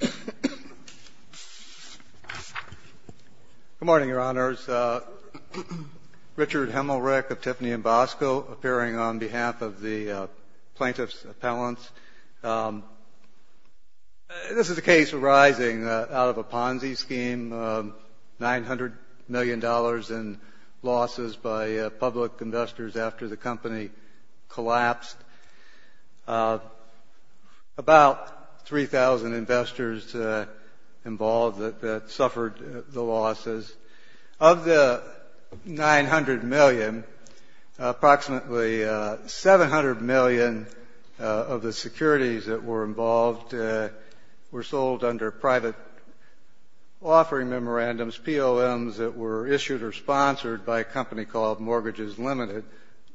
Good morning, Your Honors. Richard Hemmelreich of Tiffany & Bosco, appearing on behalf of the plaintiff's appellants. This is a case arising out of a Ponzi scheme, $900 million in losses by public investors after the company collapsed. About 3,000 investors involved that suffered the losses. Of the $900 million, approximately $700 million of the securities that were involved were sold under private offering memorandums, POMs that were issued or sponsored by a company called Mortgages Limited,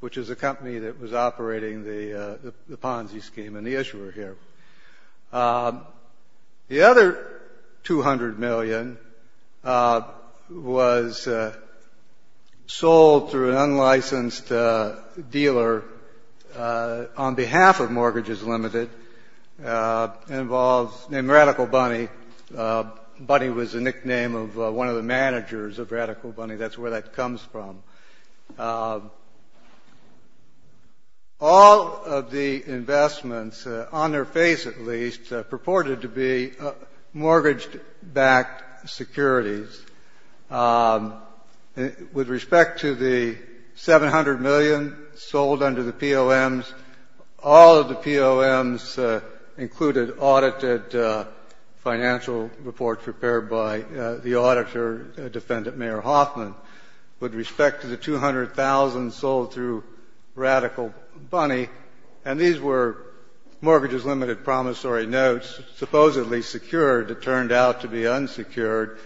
which is a company that was operating the Ponzi scheme and the issuer here. The other $200 million was sold through an unlicensed dealer on behalf of Mortgages Limited named Radical Bunny. Bunny was the nickname of one of the managers of Radical Bunny. That's where that comes from. All of the investments, on their face at least, purported to be mortgage-backed securities. With respect to the $700 million sold under the POMs, all of the POMs included audited financial reports prepared by the auditor defendant, Mayor Hoffman. With respect to the $200,000 sold through Radical Bunny, and these were Mortgages Limited promissory notes, supposedly secured. It turned out to be unsecured.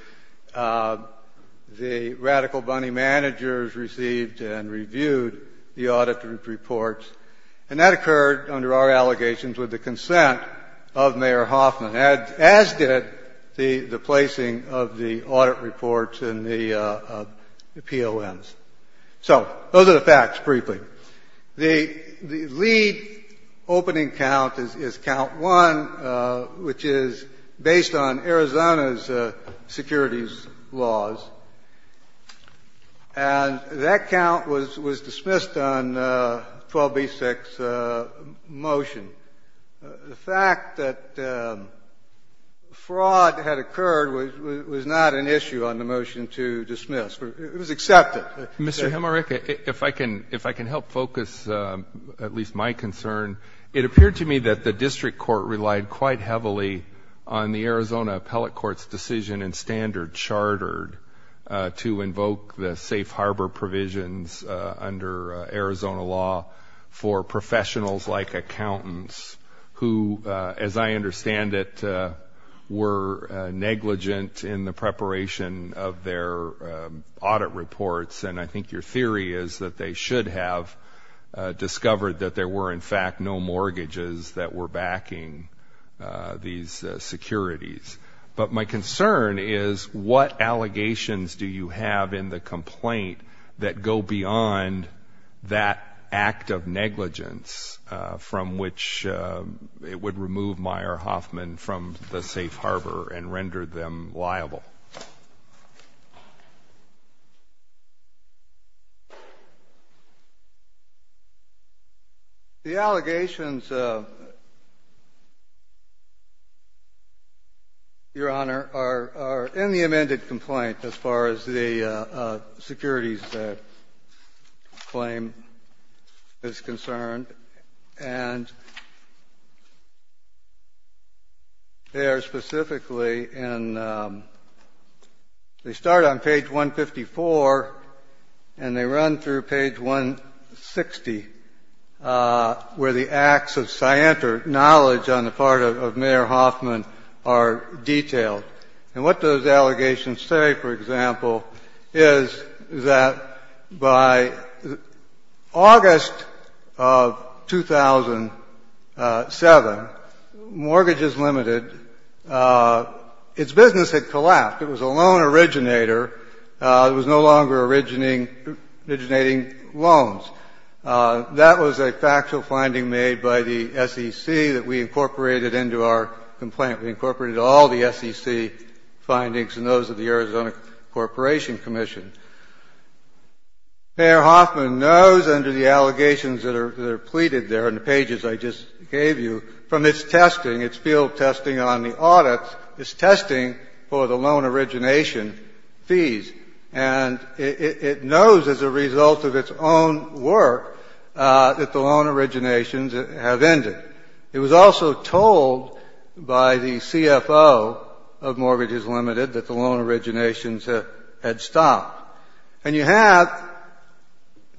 The Radical Bunny managers received and reviewed the auditor's reports, and that occurred under our allegations with the consent of Mayor Hoffman, as did the placing of the audit reports in the POMs. So those are the facts, briefly. The lead opening count is count 1, which is based on Arizona's securities laws. And that count was dismissed on 12b-6 motion. The fact that fraud had occurred was not an issue on the motion to dismiss. It was accepted. Mr. Hemerick, if I can help focus at least my concern, it appeared to me that the district court relied quite heavily on the Arizona Appellate Court's decision in Standard Chartered to invoke the safe harbor provisions under Arizona law for professionals like accountants, who, as I understand it, were negligent in the preparation of their audit reports. And I think your theory is that they should have discovered that there were, in fact, no mortgages that were backing these securities. But my concern is, what allegations do you have in the complaint that go beyond that act of negligence from which it would remove Mayor Hoffman from the safe harbor and render them liable? The allegations, Your Honor, are in the amended complaint as far as the securities claim is concerned. And they are specifically in the — they start on page 154, and they run through page 160, where the acts of scienter knowledge on the part of Mayor Hoffman are detailed. And what those allegations say, for example, is that by August of 2007, Mortgages Limited, its business had collapsed. It was a loan originator. It was no longer originating loans. That was a factual finding made by the SEC that we incorporated into our complaint. We incorporated all the SEC findings and those of the Arizona Corporation Commission. Mayor Hoffman knows under the allegations that are pleaded there in the pages I just gave you from its testing, its field testing on the audits, its testing for the loan origination fees. And it knows as a result of its own work that the loan originations have ended. It was also told by the CFO of Mortgages Limited that the loan originations had stopped. And you have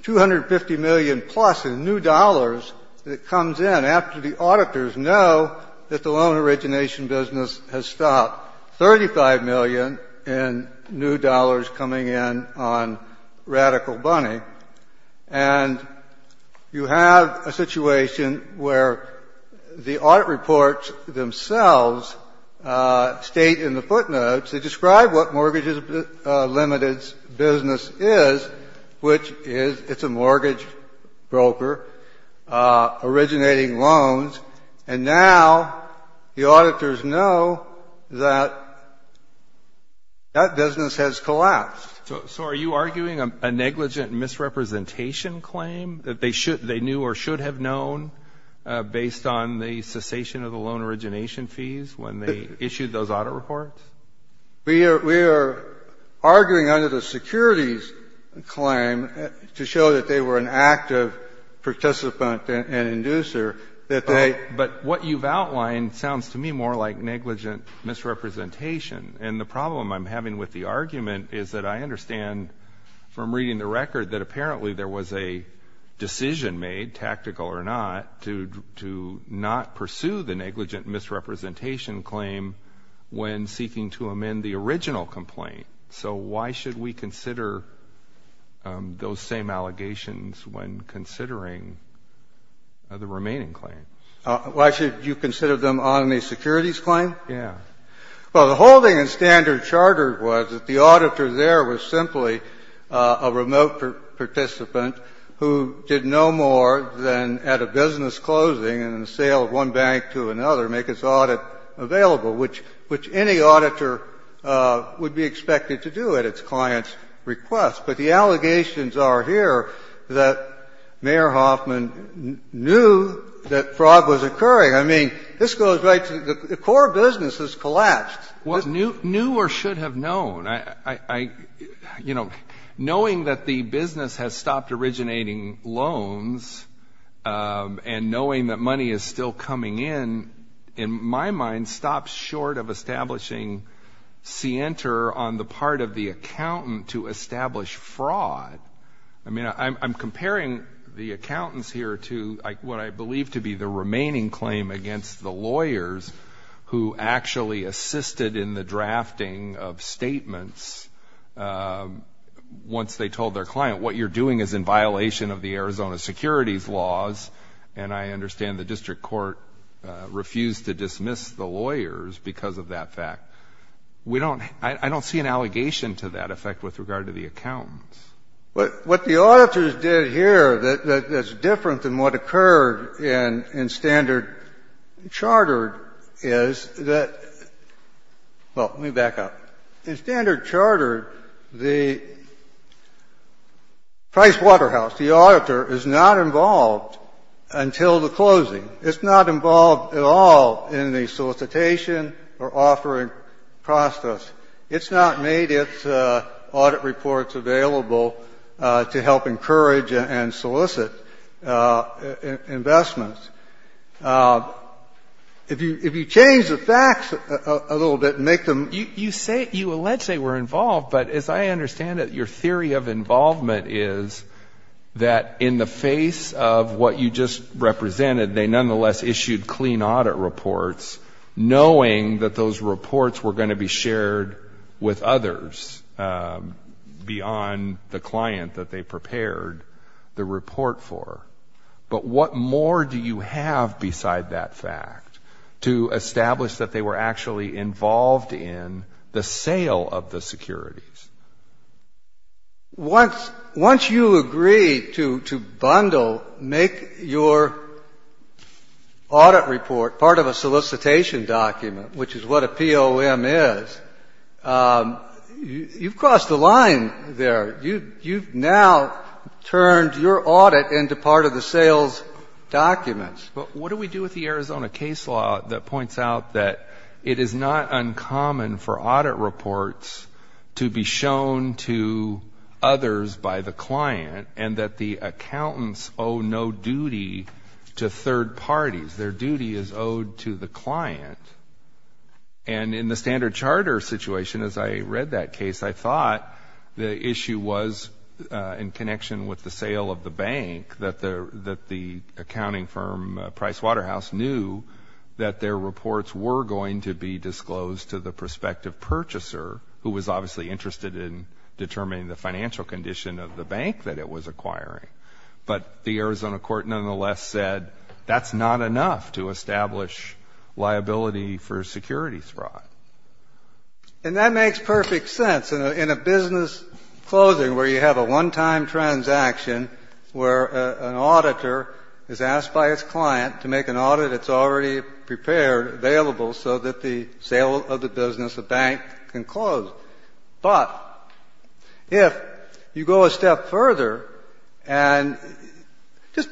$250 million-plus in new dollars that comes in after the auditors know that the loan origination business has stopped, $35 million in new dollars coming in on Radical Bunny. And you have a situation where the audit reports themselves state in the footnotes, they describe what Mortgages Limited's business is, which is it's a mortgage broker originating loans. And now the auditors know that that business has collapsed. So are you arguing a negligent misrepresentation claim that they should they knew or should have known based on the cessation of the loan origination fees when they issued those audit reports? We are arguing under the securities claim to show that they were an active participant and inducer that they But what you've outlined sounds to me more like negligent misrepresentation. And the problem I'm having with the argument is that I understand from reading the record that apparently there was a decision made, tactical or not, to not pursue the negligent misrepresentation claim when seeking to amend the original complaint. So why should we consider those same allegations when considering the remaining claims? Why should you consider them on the securities claim? Yeah. Well, the whole thing in standard charter was that the auditor there was simply a remote participant who did no more than at a business closing and the sale of one bank to another make its audit available, which any auditor would be expected to do at its client's request. But the allegations are here that Mayor Hoffman knew that fraud was occurring. I mean, this goes right to the core business has collapsed. Well, knew or should have known. I, you know, knowing that the business has stopped originating loans and knowing that money is still coming in, in my mind, stops short of establishing scienter on the part of the accountant to establish fraud. I mean, I'm comparing the accountants here to what I believe to be the remaining claim against the lawyers who actually assisted in the drafting of statements once they told their client, what you're doing is in violation of the Arizona securities laws. And I understand the district court refused to dismiss the lawyers because of that fact. We don't — I don't see an allegation to that effect with regard to the accountants. What the auditors did here that's different than what occurred in standard charter is that — well, let me back up. In standard charter, the Pricewaterhouse, the auditor, is not involved until the closing. It's not involved at all in the solicitation or offering process. It's not made its audit reports available to help encourage and solicit investments. If you change the facts a little bit and make them — You say — you allege they were involved, but as I understand it, your theory of involvement is that in the face of what you just represented, they nonetheless issued clean audit reports knowing that those reports were going to be shared with others beyond the client that they prepared the report for. But what more do you have beside that fact to establish that they were actually involved in the sale of the securities? Once you agree to bundle, make your audit report part of a solicitation document, which is what a POM is, you've crossed the line there. You've now turned your audit into part of the sales documents. But what do we do with the Arizona case law that points out that it is not uncommon for audit reports to be shown to others by the client and that the accountants owe no duty to third parties? Their duty is owed to the client. And in the standard charter situation, as I read that case, I thought the issue was in connection with the sale of the bank, that the accounting firm Price Waterhouse knew that their reports were going to be disclosed to the prospective purchaser, who was obviously interested in determining the financial condition of the bank that it was acquiring. But the Arizona court nonetheless said that's not enough to establish liability for security fraud. And that makes perfect sense. In a business closing where you have a one-time transaction where an auditor is asked by its client to make an audit that's already prepared, available, so that the sale of the business, the bank, can close. But if you go a step further and just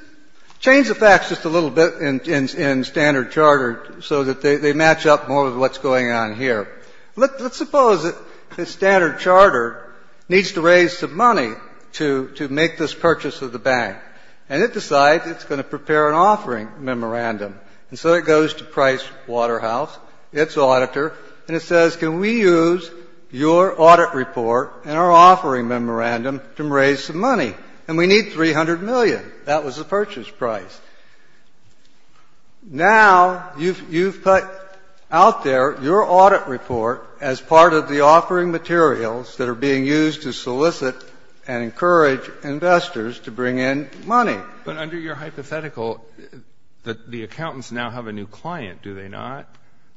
change the facts just a little bit in standard charter so that they match up more with what's going on here. Let's suppose that standard charter needs to raise some money to make this purchase of the bank. And it decides it's going to prepare an offering memorandum. And so it goes to Price Waterhouse, its auditor, and it says, can we use your audit report and our offering memorandum to raise some money? And we need $300 million. That was the purchase price. Now you've put out there your audit report as part of the offering materials that are being used to solicit and encourage investors to bring in money. But under your hypothetical, the accountants now have a new client, do they not?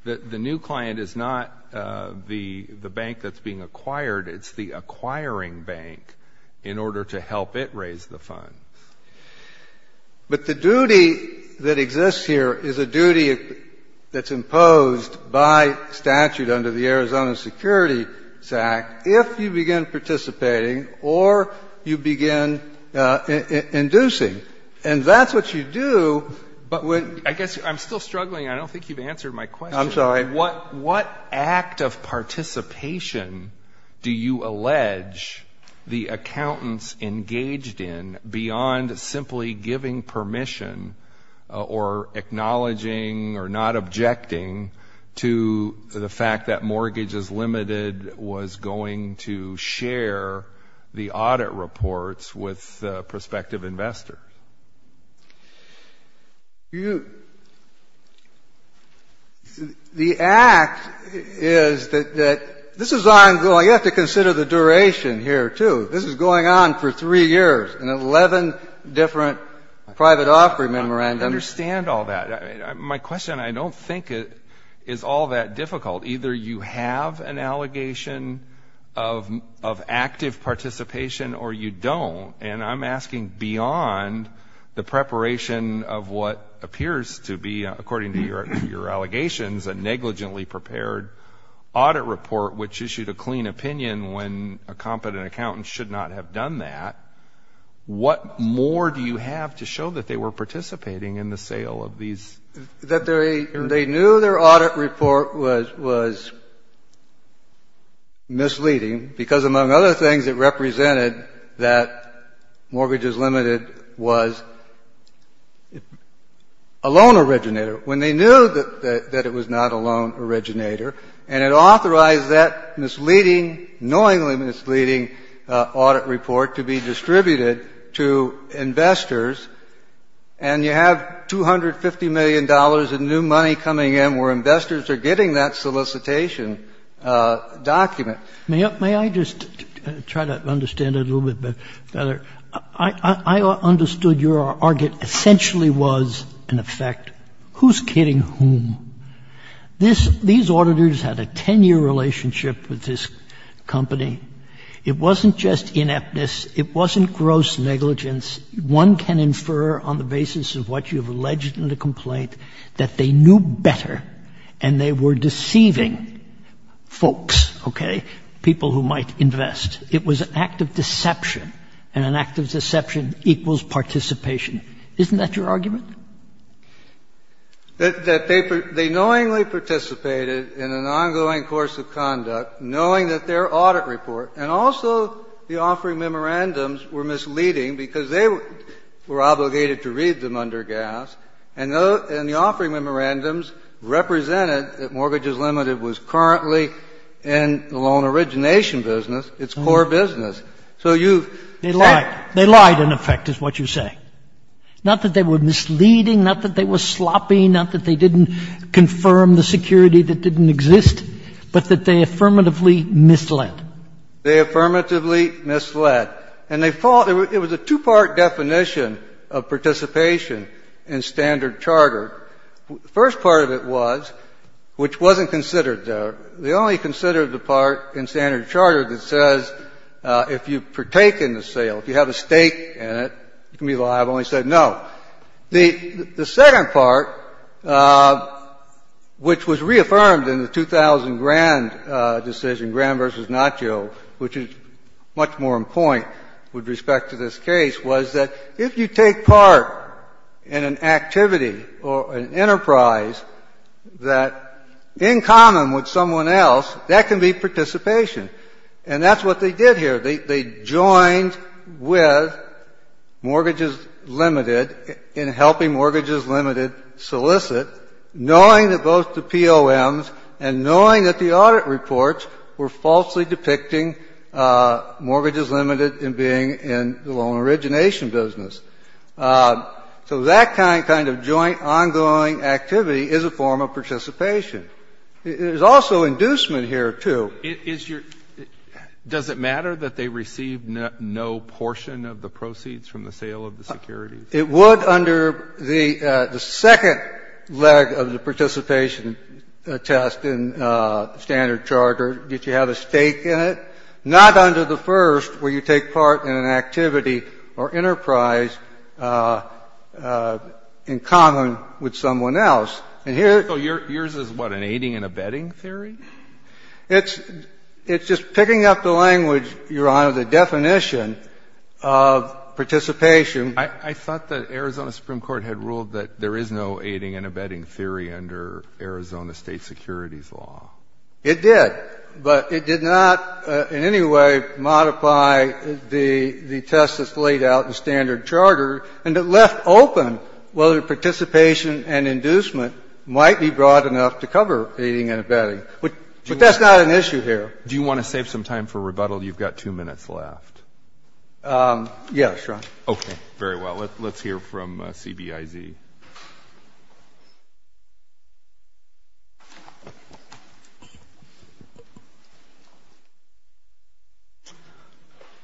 The new client is not the bank that's being acquired. It's the acquiring bank in order to help it raise the funds. But the duty that exists here is a duty that's imposed by statute under the Arizona And that's what you do. I guess I'm still struggling. I don't think you've answered my question. I'm sorry. What act of participation do you allege the accountants engaged in beyond simply giving permission or acknowledging or not objecting to the fact that Mortgage is Limited was going to share the audit reports with prospective investors? The act is that this is ongoing. You have to consider the duration here, too. This is going on for three years in 11 different private offering memorandums. I understand all that. My question, I don't think it is all that difficult. Either you have an allegation of active participation or you don't. And I'm asking beyond the preparation of what appears to be, according to your allegations, a negligently prepared audit report which issued a clean opinion when a competent accountant should not have done that. What more do you have to show that they were participating in the sale of these? They knew their audit report was misleading because, among other things, it represented that Mortgage is Limited was a loan originator when they knew that it was not a loan originator. And it authorized that misleading, knowingly misleading audit report to be distributed to investors, and you have $250 million in new money coming in where investors are getting that solicitation document. May I just try to understand it a little bit better? I understood your argument essentially was an effect. Who's kidding whom? These auditors had a 10-year relationship with this company. It wasn't just ineptness. It wasn't gross negligence. One can infer on the basis of what you have alleged in the complaint that they knew better and they were deceiving folks, okay, people who might invest. It was an act of deception, and an act of deception equals participation. Isn't that your argument? That they knowingly participated in an ongoing course of conduct, knowing that their offering memorandums were misleading because they were obligated to read them under gas, and the offering memorandums represented that Mortgage is Limited was currently in the loan origination business, its core business. So you've said they lied. They lied, in effect, is what you're saying. Not that they were misleading, not that they were sloppy, not that they didn't confirm the security that didn't exist, but that they affirmatively misled. They affirmatively misled. And they thought it was a two-part definition of participation in standard charter. The first part of it was, which wasn't considered there, they only considered the part in standard charter that says if you partake in the sale, if you have a stake in it, you can be liable, and they said no. The second part, which was reaffirmed in the 2000 Grand decision, Grand v. Notch, which is much more in point with respect to this case, was that if you take part in an activity or an enterprise that's in common with someone else, that can be participation. And that's what they did here. They joined with Mortgages Limited in helping Mortgages Limited solicit, knowing that both the POMs and knowing that the audit reports were falsely depicting Mortgages Limited in being in the loan origination business. So that kind of joint, ongoing activity is a form of participation. There's also inducement here, too. It is your – does it matter that they received no portion of the proceeds from the sale of the securities? It would under the second leg of the participation test in the standard charter if you have a stake in it, not under the first where you take part in an activity or enterprise in common with someone else. And here you're – So yours is what, an aiding and abetting theory? It's just picking up the language, Your Honor, the definition of participation. I thought that Arizona Supreme Court had ruled that there is no aiding and abetting theory under Arizona State securities law. It did. But it did not in any way modify the test that's laid out in the standard charter. And it left open whether participation and inducement might be broad enough to cover aiding and abetting. But that's not an issue here. Do you want to save some time for rebuttal? You've got two minutes left. Yes, Your Honor. Okay. Very well. Let's hear from CBIZ.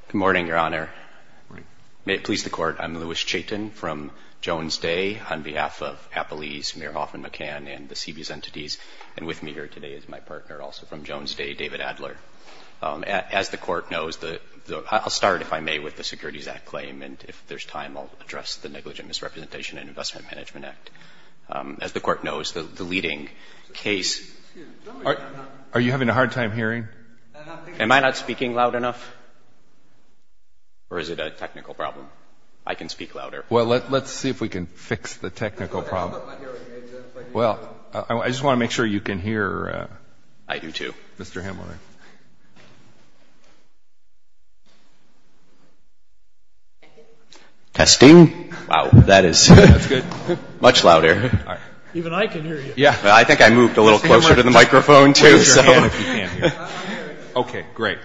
Good morning, Your Honor. May it please the Court. I'm Louis Chaitin from Jones Day on behalf of Appalese, Mayor Hoffman McCann and the CB's entities. And with me here today is my partner also from Jones Day, David Adler. As the Court knows, the – I'll start, if I may, with the Securities Act claim. And if there's time, I'll address the Negligent Misrepresentation and Investment Management Act. As the Court knows, the leading case – Are you having a hard time hearing? Am I not speaking loud enough? Or is it a technical problem? I can speak louder. Well, let's see if we can fix the technical problem. Well, I just want to make sure you can hear. I do, too. Mr. Hamler. Testing. Wow. That is – That's good. Much louder. All right. Even I can hear you. Yeah. I think I moved a little closer to the microphone, too. Raise your hand if you can. Okay. Great.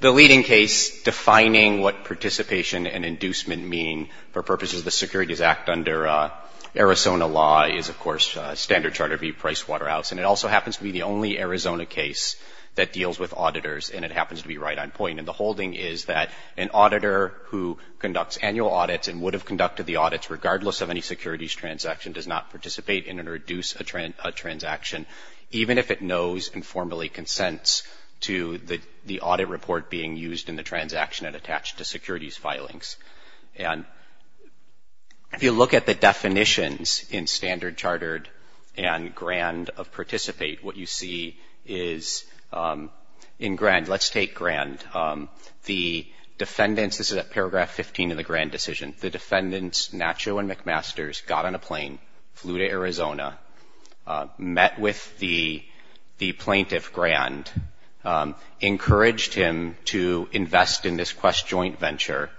The leading case defining what participation and inducement mean for purposes of the Securities Act under Arizona law is, of course, Standard Charter v. Pricewaterhouse. And it also happens to be the only Arizona case that deals with auditors, and it happens to be right on point. And the holding is that an auditor who conducts annual audits and would have conducted the audits, regardless of any securities transaction, does not participate in or induce a transaction, even if it knows and formally consents to the audit report being used in the transaction and attached to securities filings. And if you look at the definitions in Standard Chartered and Grand of participate, what you see is, in Grand – let's take Grand. The defendants – this is at paragraph 15 of the Grand decision. The defendants, Nacho and McMasters, got on a plane, flew to Arizona, met with the plaintiff, encouraged him to invest in this Quest joint venture,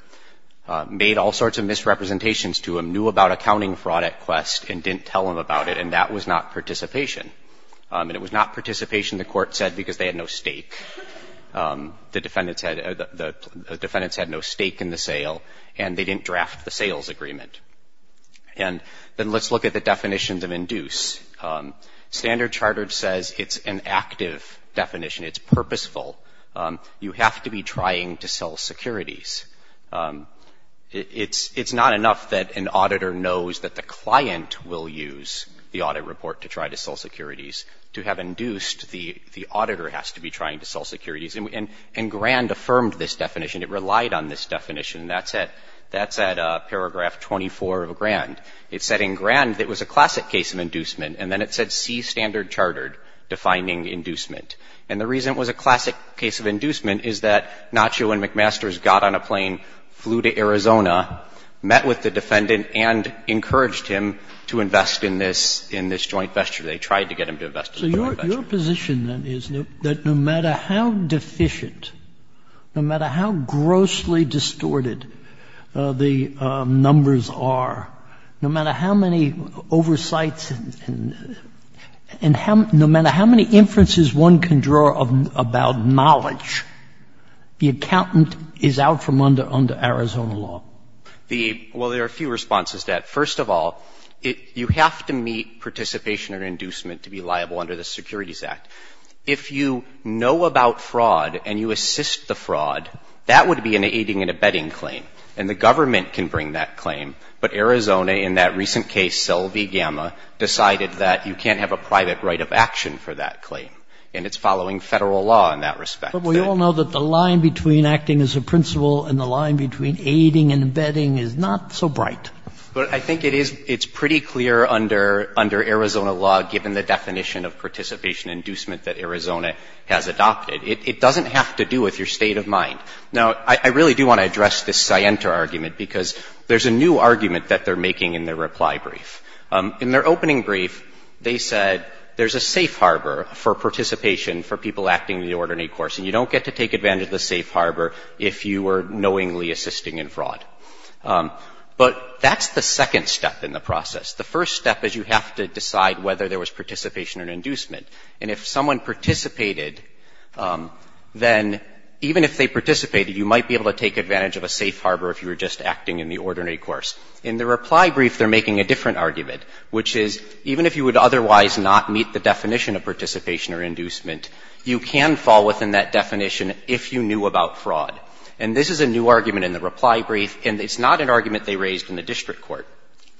made all sorts of misrepresentations to him, knew about accounting fraud at Quest, and didn't tell him about it. And that was not participation. And it was not participation, the court said, because they had no stake. The defendants had no stake in the sale, and they didn't draft the sales agreement. And then let's look at the definitions of induce. Standard Chartered says it's an active definition. It's purposeful. You have to be trying to sell securities. It's not enough that an auditor knows that the client will use the audit report to try to sell securities. To have induced, the auditor has to be trying to sell securities. And Grand affirmed this definition. It relied on this definition. That's at paragraph 24 of Grand. It said in Grand that it was a classic case of inducement. And then it said C, Standard Chartered, defining inducement. And the reason it was a classic case of inducement is that Nacho and McMasters got on a plane, flew to Arizona, met with the defendant, and encouraged him to invest in this joint venture. Sotomayor, your position, then, is that no matter how deficient, no matter how grossly distorted the numbers are, no matter how many oversights and how no matter how many inferences one can draw about knowledge, the accountant is out from under Arizona law? Well, there are a few responses to that. First of all, you have to meet participation or inducement to be liable under the Securities Act. If you know about fraud and you assist the fraud, that would be an aiding and abetting claim, and the government can bring that claim. But Arizona, in that recent case, Selvy Gamma, decided that you can't have a private right of action for that claim, and it's following Federal law in that respect. But we all know that the line between acting as a principal and the line between clear under Arizona law, given the definition of participation and inducement that Arizona has adopted. It doesn't have to do with your state of mind. Now, I really do want to address this Sienta argument, because there's a new argument that they're making in their reply brief. In their opening brief, they said there's a safe harbor for participation for people acting in the ordinary course, and you don't get to take advantage of the safe harbor if you were knowingly assisting in fraud. But that's the second step in the process. The first step is you have to decide whether there was participation or inducement. And if someone participated, then even if they participated, you might be able to take advantage of a safe harbor if you were just acting in the ordinary course. In the reply brief, they're making a different argument, which is even if you would otherwise not meet the definition of participation or inducement, you can fall within that definition if you knew about fraud. And this is a new argument in the reply brief, and it's not an argument they raised in the district court.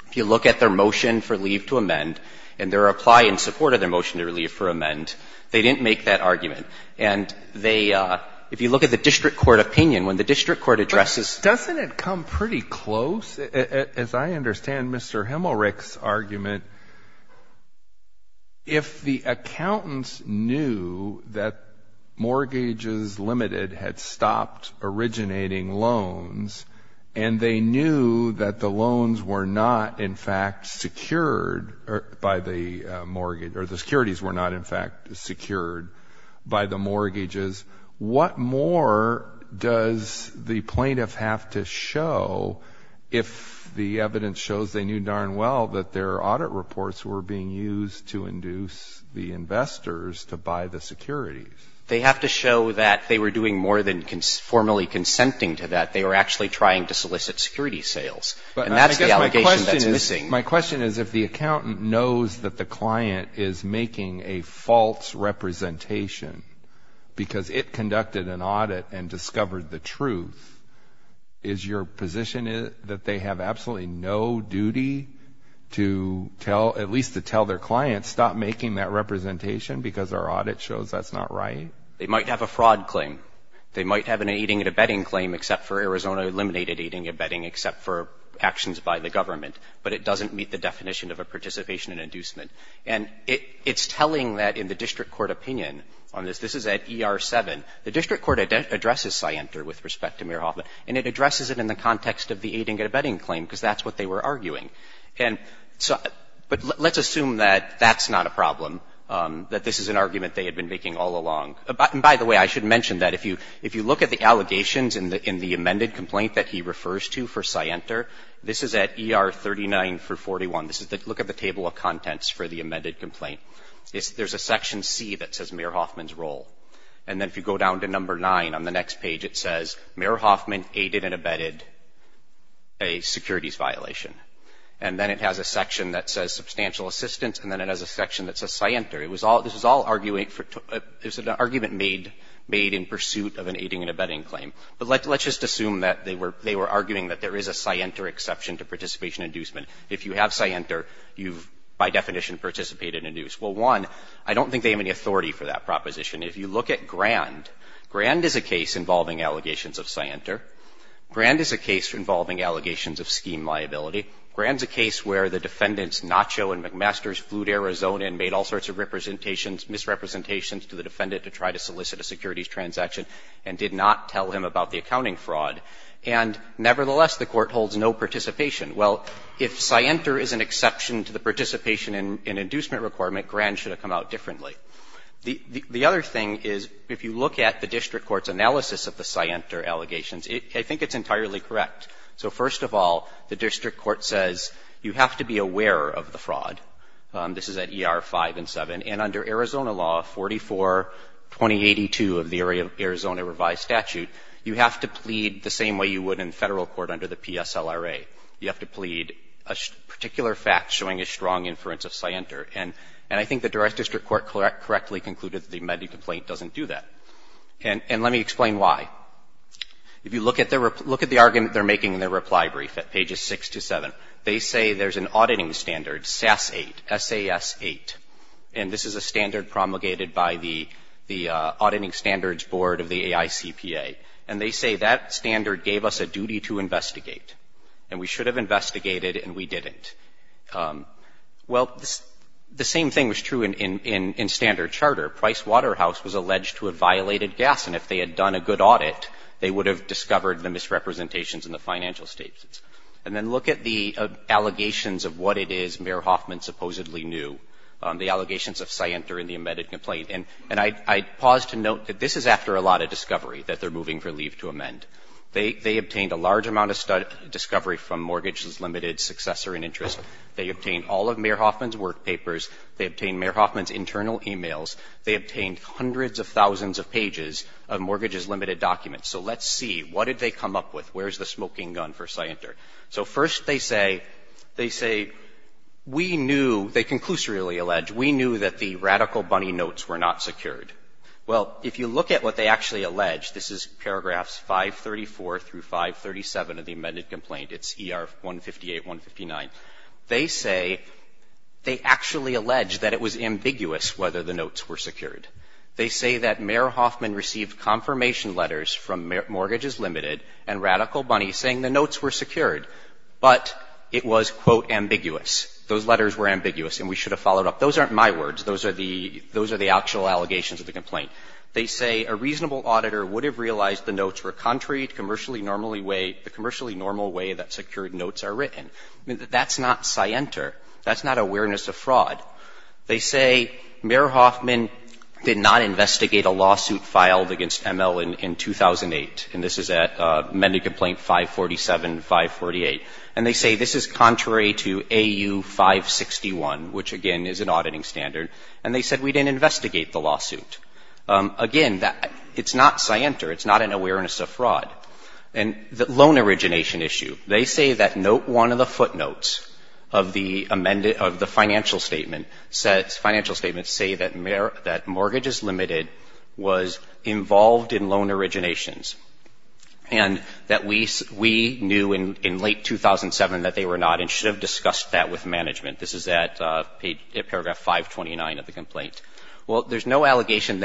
If you look at their motion for leave to amend and their reply in support of their motion to leave for amend, they didn't make that argument. And they — if you look at the district court opinion, when the district court addresses — But doesn't it come pretty close? As I understand Mr. Himmelreich's argument, if the accountants knew that Mortgages Limited had stopped originating loans and they knew that the loans were not in fact secured by the mortgage — or the securities were not in fact secured by the mortgages, what more does the plaintiff have to show if the evidence shows they knew darn well that their audit reports were being used to induce the investors to buy the securities? They have to show that they were doing more than formally consenting to that. They were actually trying to solicit security sales. And that's the allegation that's missing. My question is if the accountant knows that the client is making a false representation because it conducted an audit and discovered the truth, is your position that they have absolutely no duty to tell — at least to tell their client, stop making that claim? They might have a fraud claim. They might have an aiding and abetting claim, except for Arizona eliminated aiding and abetting, except for actions by the government. But it doesn't meet the definition of a participation in inducement. And it's telling that in the district court opinion on this. This is at ER-7. The district court addresses Sienter with respect to Meir Hoffman, and it addresses it in the context of the aiding and abetting claim, because that's what they were arguing. And so — but let's assume that that's not a problem, that this is an argument they had been making all along. And by the way, I should mention that if you look at the allegations in the amended complaint that he refers to for Sienter, this is at ER-39 through 41. This is the — look at the table of contents for the amended complaint. There's a section C that says Meir Hoffman's role. And then if you go down to number 9 on the next page, it says Meir Hoffman aided and abetted a securities violation. And then it has a section that says substantial assistance, and then it has a section that says Sienter. It was all — this was all arguing for — it was an argument made in pursuit of an aiding and abetting claim. But let's just assume that they were arguing that there is a Sienter exception to participation inducement. If you have Sienter, you've, by definition, participated in inducement. Well, one, I don't think they have any authority for that proposition. If you look at Grand, Grand is a case involving allegations of Sienter. Grand is a case involving allegations of scheme liability. Grand is a case where the defendants, Nacho and McMaster, flew to Arizona and made all sorts of representations, misrepresentations to the defendant to try to solicit a securities transaction and did not tell him about the accounting fraud. And nevertheless, the Court holds no participation. Well, if Sienter is an exception to the participation in inducement requirement, Grand should have come out differently. The other thing is, if you look at the district court's analysis of the Sienter allegations, I think it's entirely correct. So first of all, the district court says you have to be aware of the fraud. This is at ER 5 and 7. And under Arizona law 44-2082 of the Arizona revised statute, you have to plead the same way you would in Federal court under the PSLRA. You have to plead a particular fact showing a strong inference of Sienter. And I think the direct district court correctly concluded that the amended complaint doesn't do that. And let me explain why. If you look at the argument they're making in their reply brief at pages 6 to 7, they say there's an auditing standard, SAS 8, S-A-S 8. And this is a standard promulgated by the Auditing Standards Board of the AICPA. And they say that standard gave us a duty to investigate. And we should have investigated, and we didn't. Well, the same thing was true in standard charter. Price Waterhouse was alleged to have violated gas, and if they had done a good audit, they would have discovered the misrepresentations in the financial statements. And then look at the allegations of what it is Mayor Hoffman supposedly knew, the allegations of Sienter in the amended complaint. And I pause to note that this is after a lot of discovery that they're moving for leave to amend. They obtained a large amount of discovery from mortgages, limited successor and interest. They obtained all of Mayor Hoffman's work papers. They obtained Mayor Hoffman's internal e-mails. They obtained hundreds of thousands of pages of mortgages limited documents. So let's see. What did they come up with? Where's the smoking gun for Sienter? So first they say, they say, we knew, they conclusively allege, we knew that the radical bunny notes were not secured. Well, if you look at what they actually allege, this is paragraphs 534 through 537 of the amended complaint. It's ER 158, 159. They say they actually allege that it was ambiguous whether the notes were secured. They say that Mayor Hoffman received confirmation letters from Mortgages Limited and Radical Bunny saying the notes were secured, but it was, quote, ambiguous. Those letters were ambiguous and we should have followed up. Those aren't my words. Those are the actual allegations of the complaint. They say a reasonable auditor would have realized the notes were contrary to the commercially normal way that secured notes are written. That's not Sienter. That's not awareness of fraud. They say Mayor Hoffman did not investigate a lawsuit filed against ML in 2008, and this is at amended complaint 547, 548. And they say this is contrary to AU 561, which, again, is an auditing standard. And they said we didn't investigate the lawsuit. Again, that, it's not Sienter. It's not an awareness of fraud. And the loan origination issue. They say that note one of the footnotes of the amended, of the financial statement, financial statements say that Mortgages Limited was involved in loan originations and that we knew in late 2007 that they were not and should have discussed that with management. This is at paragraph 529 of the complaint. Well, there's no allegation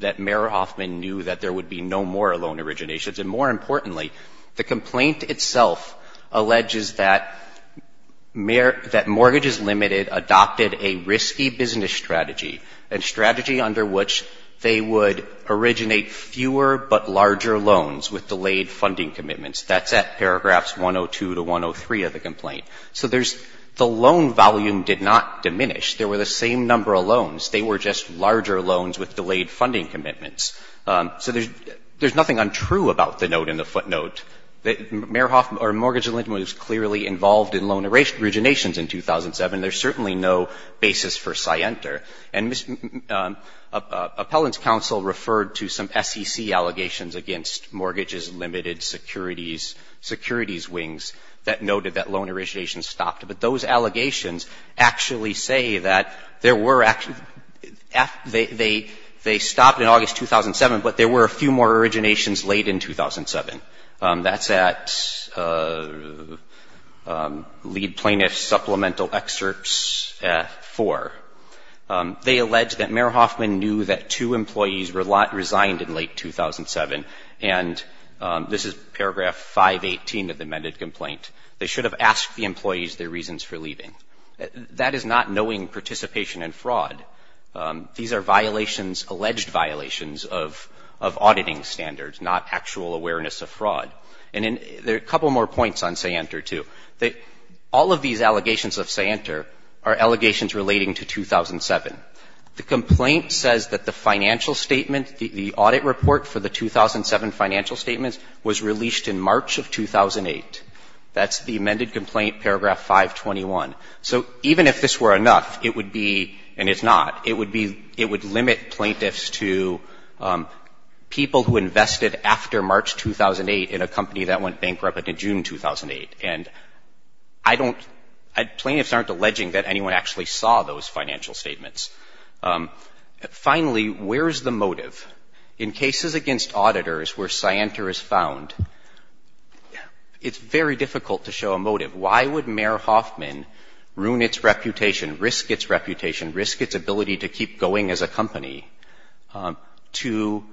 that Mayor Hoffman knew that there would be no more loan originations. And more importantly, the complaint itself alleges that Mortgages Limited adopted a risky business strategy, a strategy under which they would originate fewer but larger loans with delayed funding commitments. That's at paragraphs 102 to 103 of the complaint. So there's, the loan volume did not diminish. There were the same number of loans. They were just larger loans with delayed funding commitments. So there's nothing untrue about the note in the footnote that Mayor Hoffman or Mortgages Limited was clearly involved in loan originations in 2007. There's certainly no basis for Sienter. And Ms. Appellant's counsel referred to some SEC allegations against Mortgages Limited securities, securities wings that noted that loan originations stopped. But those allegations actually say that there were, they stopped in August 2007, but there were a few more originations late in 2007. That's at Lead Plaintiff Supplemental Excerpts 4. They allege that Mayor Hoffman knew that two employees resigned in late 2007. And this is paragraph 518 of the amended complaint. They should have asked the employees their reasons for leaving. That is not knowing participation in fraud. These are violations, alleged violations of auditing standards, not actual awareness of fraud. And there are a couple more points on Sienter, too. All of these allegations of Sienter are allegations relating to 2007. The complaint says that the financial statement, the audit report for the 2007 financial statements was released in March of 2008. That's the amended complaint, paragraph 521. So even if this were enough, it would be, and it's not, it would be, it would limit plaintiffs to people who invested after March 2008 in a company that went bankrupt in June 2008. And I don't, plaintiffs aren't alleging that anyone actually saw those financial statements. Finally, where is the motive? In cases against auditors where Sienter is found, it's very difficult to show a motive. Why would Mayor Hoffman ruin its reputation, risk its reputation, risk its ability to keep going as a company to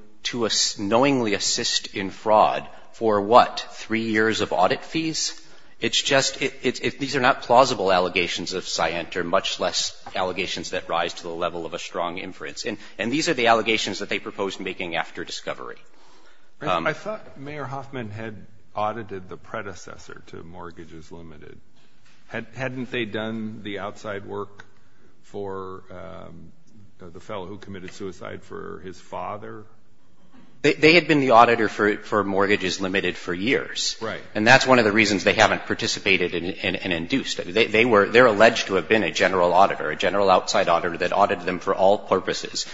knowingly assist in fraud for what, three years of audit fees? It's just, these are not plausible allegations of Sienter, much less allegations that rise to the level of a strong inference. And these are the allegations that they proposed making after discovery. I thought Mayor Hoffman had audited the predecessor to Mortgages Limited. Hadn't they done the outside work for the fellow who committed suicide for his father? They had been the auditor for Mortgages Limited for years. Right. And that's one of the reasons they haven't participated and induced it. They were, they're alleged to have been a general auditor, a general outside auditor that audited them for all purposes,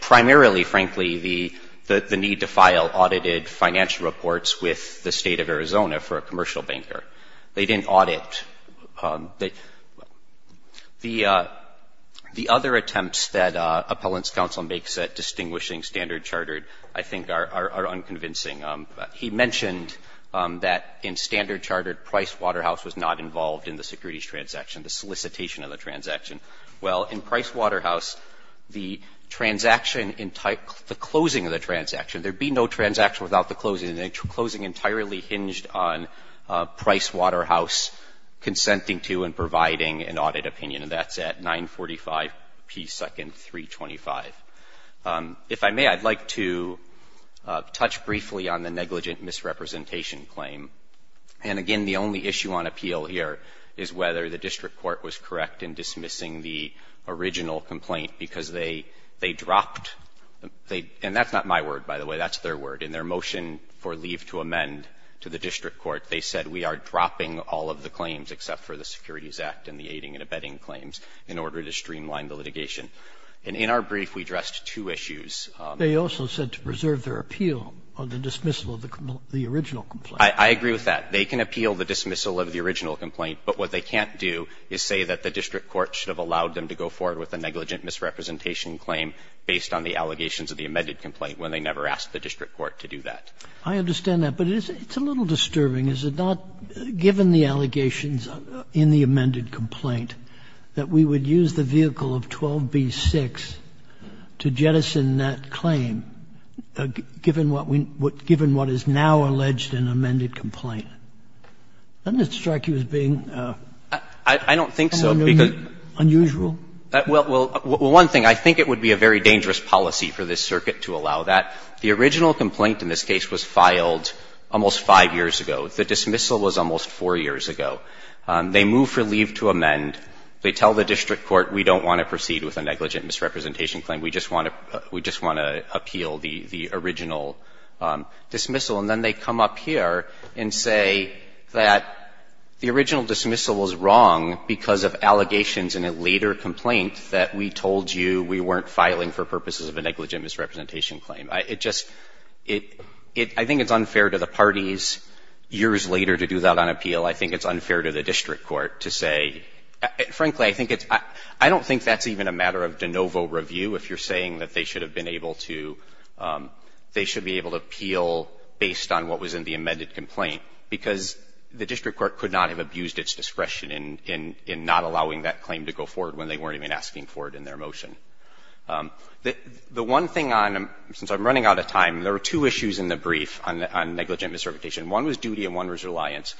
primarily, frankly, the need to file audited financial reports with the State of Arizona for a commercial banker. They didn't audit. The other attempts that Appellant's counsel makes at distinguishing Standard Chartered, I think, are unconvincing. He mentioned that in Standard Chartered, Price Waterhouse was not involved in the securities transaction, the solicitation of the transaction. Well, in Price Waterhouse, the transaction, the closing of the transaction, there'd be no transaction without the closing, and the closing entirely hinged on Price Waterhouse consenting to and providing an audit opinion. And that's at 945 P. 2nd, 325. If I may, I'd like to touch briefly on the negligent misrepresentation claim. And, again, the only issue on appeal here is whether the district court was correct in dismissing the original complaint because they dropped, and that's not my word, by the way. That's their word. In their motion for leave to amend to the district court, they said we are dropping all of the claims except for the Securities Act and the aiding and abetting claims in order to streamline the litigation. And in our brief, we addressed two issues. They also said to preserve their appeal on the dismissal of the original complaint. I agree with that. They can appeal the dismissal of the original complaint, but what they can't do is say that the district court should have allowed them to go forward with a negligent misrepresentation claim based on the allegations of the amended complaint, when they never asked the district court to do that. I understand that. But it's a little disturbing. Is it not, given the allegations in the amended complaint, that we would use the vehicle of 12b-6 to jettison that claim, given what we need to do, given what is now alleged in the amended complaint? Doesn't it strike you as being unusual? Well, one thing, I think it would be a very dangerous policy for this circuit to allow that. The original complaint in this case was filed almost 5 years ago. The dismissal was almost 4 years ago. They move for leave to amend. They tell the district court, we don't want to proceed with a negligent misrepresentation claim, we just want to appeal the original dismissal. And then they come up here and say that the original dismissal was wrong because of allegations in a later complaint that we told you we weren't filing for purposes of a negligent misrepresentation claim. It just — I think it's unfair to the parties, years later, to do that on appeal. I think it's unfair to the district court to say — frankly, I think it's — I don't think that's even a matter of de novo review, if you're saying that they should have been able to — they should be able to appeal based on what was in the amended complaint because the district court could not have abused its discretion in not allowing that claim to go forward when they weren't even asking for it in their motion. The one thing on — since I'm running out of time, there were two issues in the brief on negligent misrepresentation. One was duty and one was reliance.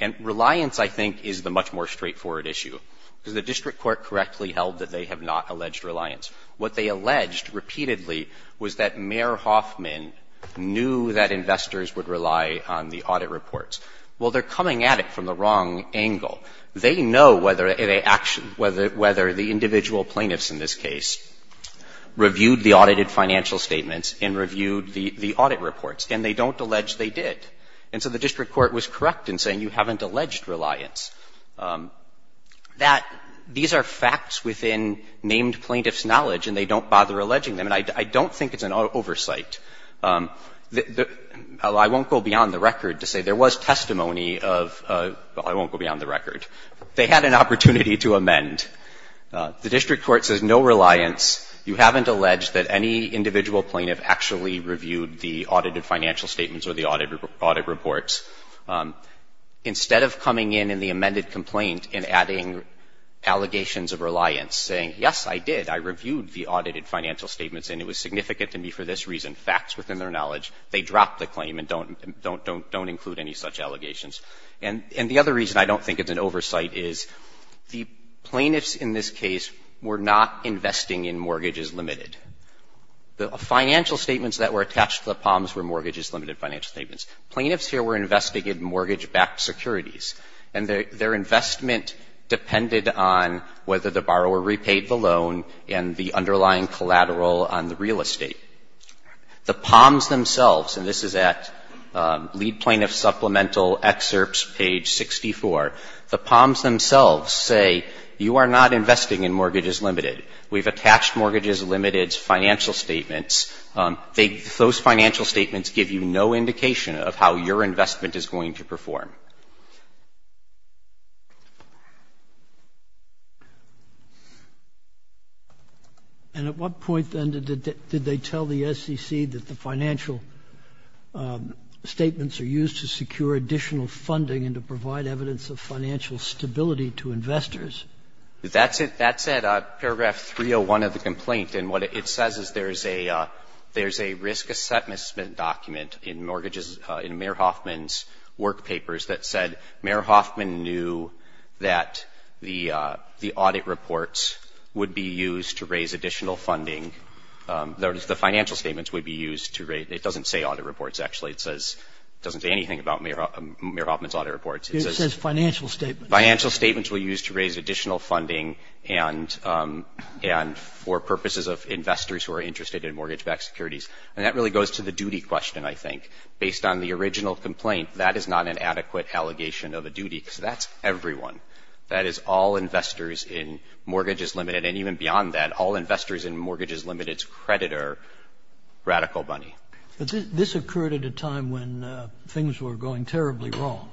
And reliance, I think, is the much more straightforward issue because the district court correctly held that they have not alleged reliance. What they alleged, repeatedly, was that Mayor Hoffman knew that investors would rely on the audit reports. Well, they're coming at it from the wrong angle. They know whether — whether the individual plaintiffs in this case reviewed the audited financial statements and reviewed the audit reports, and they don't allege they did. And so the district court was correct in saying you haven't alleged reliance. That — these are facts within named plaintiffs' knowledge, and they don't bother alleging them. And I don't think it's an oversight. The — I won't go beyond the record to say there was testimony of — well, I won't go beyond the record. They had an opportunity to amend. The district court says no reliance. You haven't alleged that any individual plaintiff actually reviewed the audited financial statements or the audit reports. Instead of coming in in the amended complaint and adding allegations of reliance, saying, yes, I did, I reviewed the audited financial statements, and it was significant to me for this reason, facts within their knowledge, they drop the claim and don't include any such allegations. And the other reason I don't think it's an oversight is the plaintiffs in this case were not investing in mortgages limited. The financial statements that were attached to the POMs were mortgages limited financial statements. Plaintiffs here were investing in mortgage-backed securities, and their investment depended on whether the borrower repaid the loan and the underlying collateral on the real estate. The POMs themselves, and this is at Lead Plaintiff Supplemental Excerpts, page 64, the POMs themselves say you are not investing in mortgages limited. We've attached mortgages limited financial statements. Those financial statements give you no indication of how your investment is going to perform. And at what point, then, did they tell the SEC that the financial statements are used to secure additional funding and to provide evidence of financial stability to investors? That's at paragraph 301 of the complaint. And what it says is there's a risk assessment document in mortgages, in Mayor Hoffman's work papers, that said Mayor Hoffman knew that the audit reports would be used to raise additional funding, that the financial statements would be used to raise It doesn't say audit reports, actually. It doesn't say anything about Mayor Hoffman's audit reports. It says financial statements. Financial statements were used to raise additional funding and for purposes of investors who are interested in mortgage-backed securities. And that really goes to the duty question, I think. Based on the original complaint, that is not an adequate allegation of a duty, because that's everyone. That is all investors in mortgages limited, and even beyond that, all investors in mortgages limited's creditor, Radical Money. But this occurred at a time when things were going terribly wrong.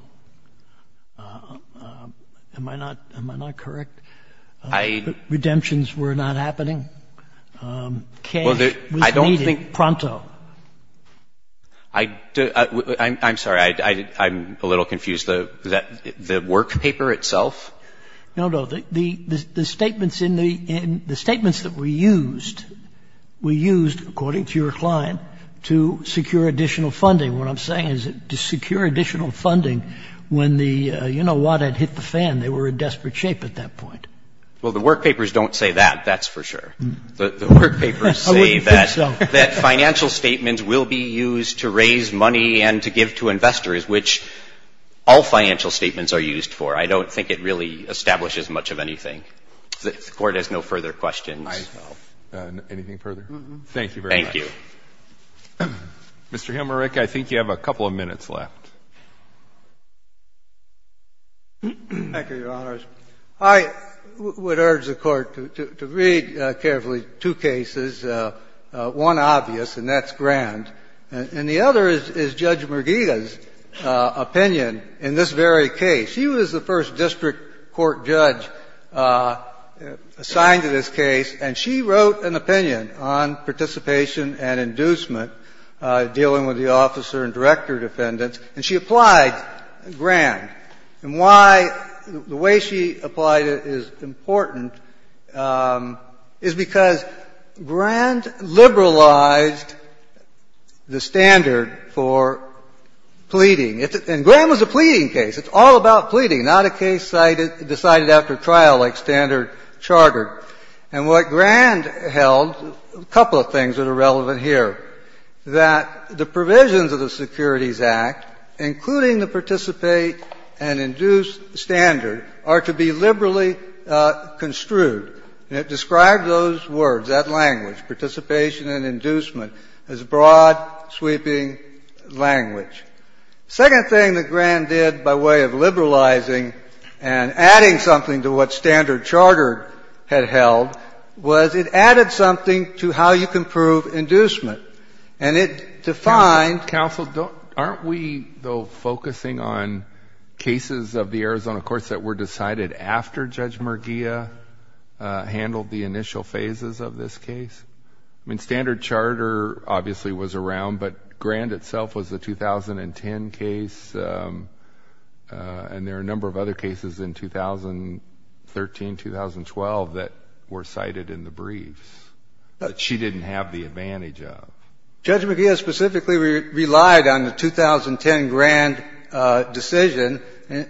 Am I not correct? Redemptions were not happening. Cash was needed pronto. I'm sorry. I'm a little confused. The work paper itself? No, no. The statements in the the statements that were used were used, according to your client, to secure additional funding. What I'm saying is to secure additional funding when the, you know what, had hit the fan. They were in desperate shape at that point. Well, the work papers don't say that, that's for sure. The work papers say that financial statements will be used to raise money and to give to investors, which all financial statements are used for. I don't think it really establishes much of anything. The Court has no further questions. Anything further? Thank you very much. Thank you. Mr. Hilmerich, I think you have a couple of minutes left. Thank you, Your Honors. I would urge the Court to read carefully two cases. One obvious, and that's Grand. And the other is Judge Merguida's opinion in this very case. She was the first district court judge assigned to this case, and she wrote an opinion on participation and inducement dealing with the officer and director defendants, and she applied Grand. And why the way she applied it is important is because Grand liberalized the standard for pleading. And Grand was a pleading case. It's all about pleading, not a case decided after trial like standard chartered. And what Grand held, a couple of things that are relevant here, that the provisions of the Securities Act, including the participate and induce standard, are to be liberally construed. And it describes those words, that language, participation and inducement, as broad, sweeping language. The second thing that Grand did by way of liberalizing and adding something to what standard charter had held was it added something to how you can prove inducement. Counsel, aren't we, though, focusing on cases of the Arizona courts that were decided after Judge Merguida handled the initial phases of this case? I mean, standard charter obviously was around, but Grand itself was a 2010 case, and there are a number of other cases in 2013, 2012 that were cited in the briefs that she didn't have the advantage of. Judge Merguida specifically relied on the 2010 Grand decision,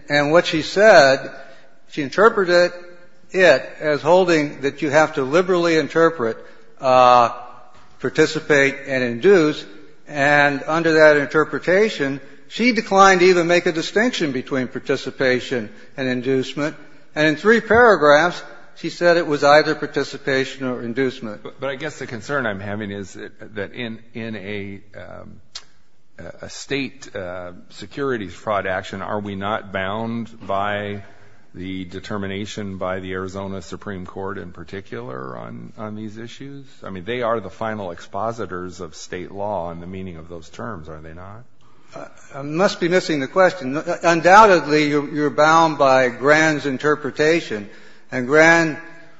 and what she said, she interpreted it as holding that you have to liberally interpret, participate and induce. And under that interpretation, she declined to even make a distinction between participation and inducement. And in three paragraphs, she said it was either participation or inducement. But I guess the concern I'm having is that in a State securities fraud action, are we not bound by the determination by the Arizona Supreme Court in particular on these issues? I mean, they are the final expositors of State law and the meaning of those terms, are they not? I must be missing the question. Undoubtedly, you're bound by Grand's interpretation. And Grand,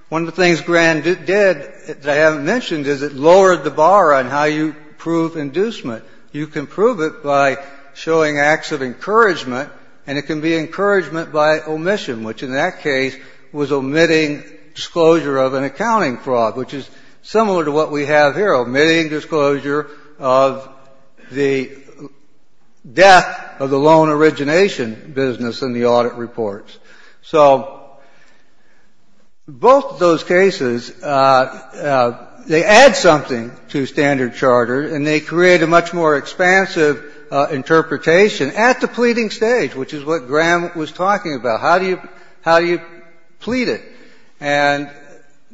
one of the things Grand did that I haven't mentioned is it lowered the bar on how you prove inducement. You can prove it by showing acts of encouragement, and it can be encouragement by omission, which in that case was omitting disclosure of an accounting fraud, which is similar to what we have here, omitting disclosure of the death of the loan origination business in the audit reports. So both of those cases, they add something to standard charter, and they create a much more expansive interpretation at the pleading stage, which is what Grand was talking about. How do you plead it? And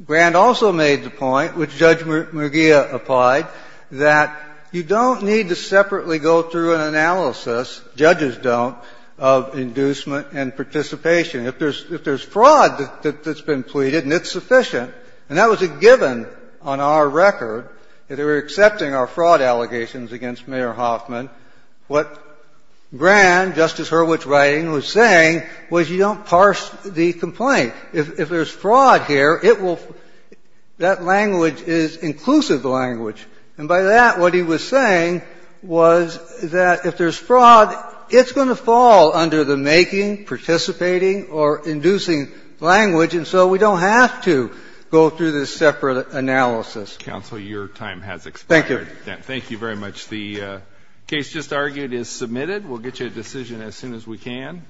Grand also made the point, which Judge McGeer applied, that you don't need to separately go through an analysis, judges don't, of inducement and participation. If there's fraud that's been pleaded, and it's sufficient, and that was a given on our record, that they were accepting our fraud allegations against Mayor Hoffman, what Grand, Justice Hurwitz writing, was saying was you don't parse the complaint. If there's fraud here, it will – that language is inclusive language. And by that, what he was saying was that if there's fraud, it's going to fall under the making, participating, or inducing language, and so we don't have to go through this separate analysis. Counsel, your time has expired. Thank you. Thank you very much. The case just argued is submitted. We'll get you a decision as soon as we can.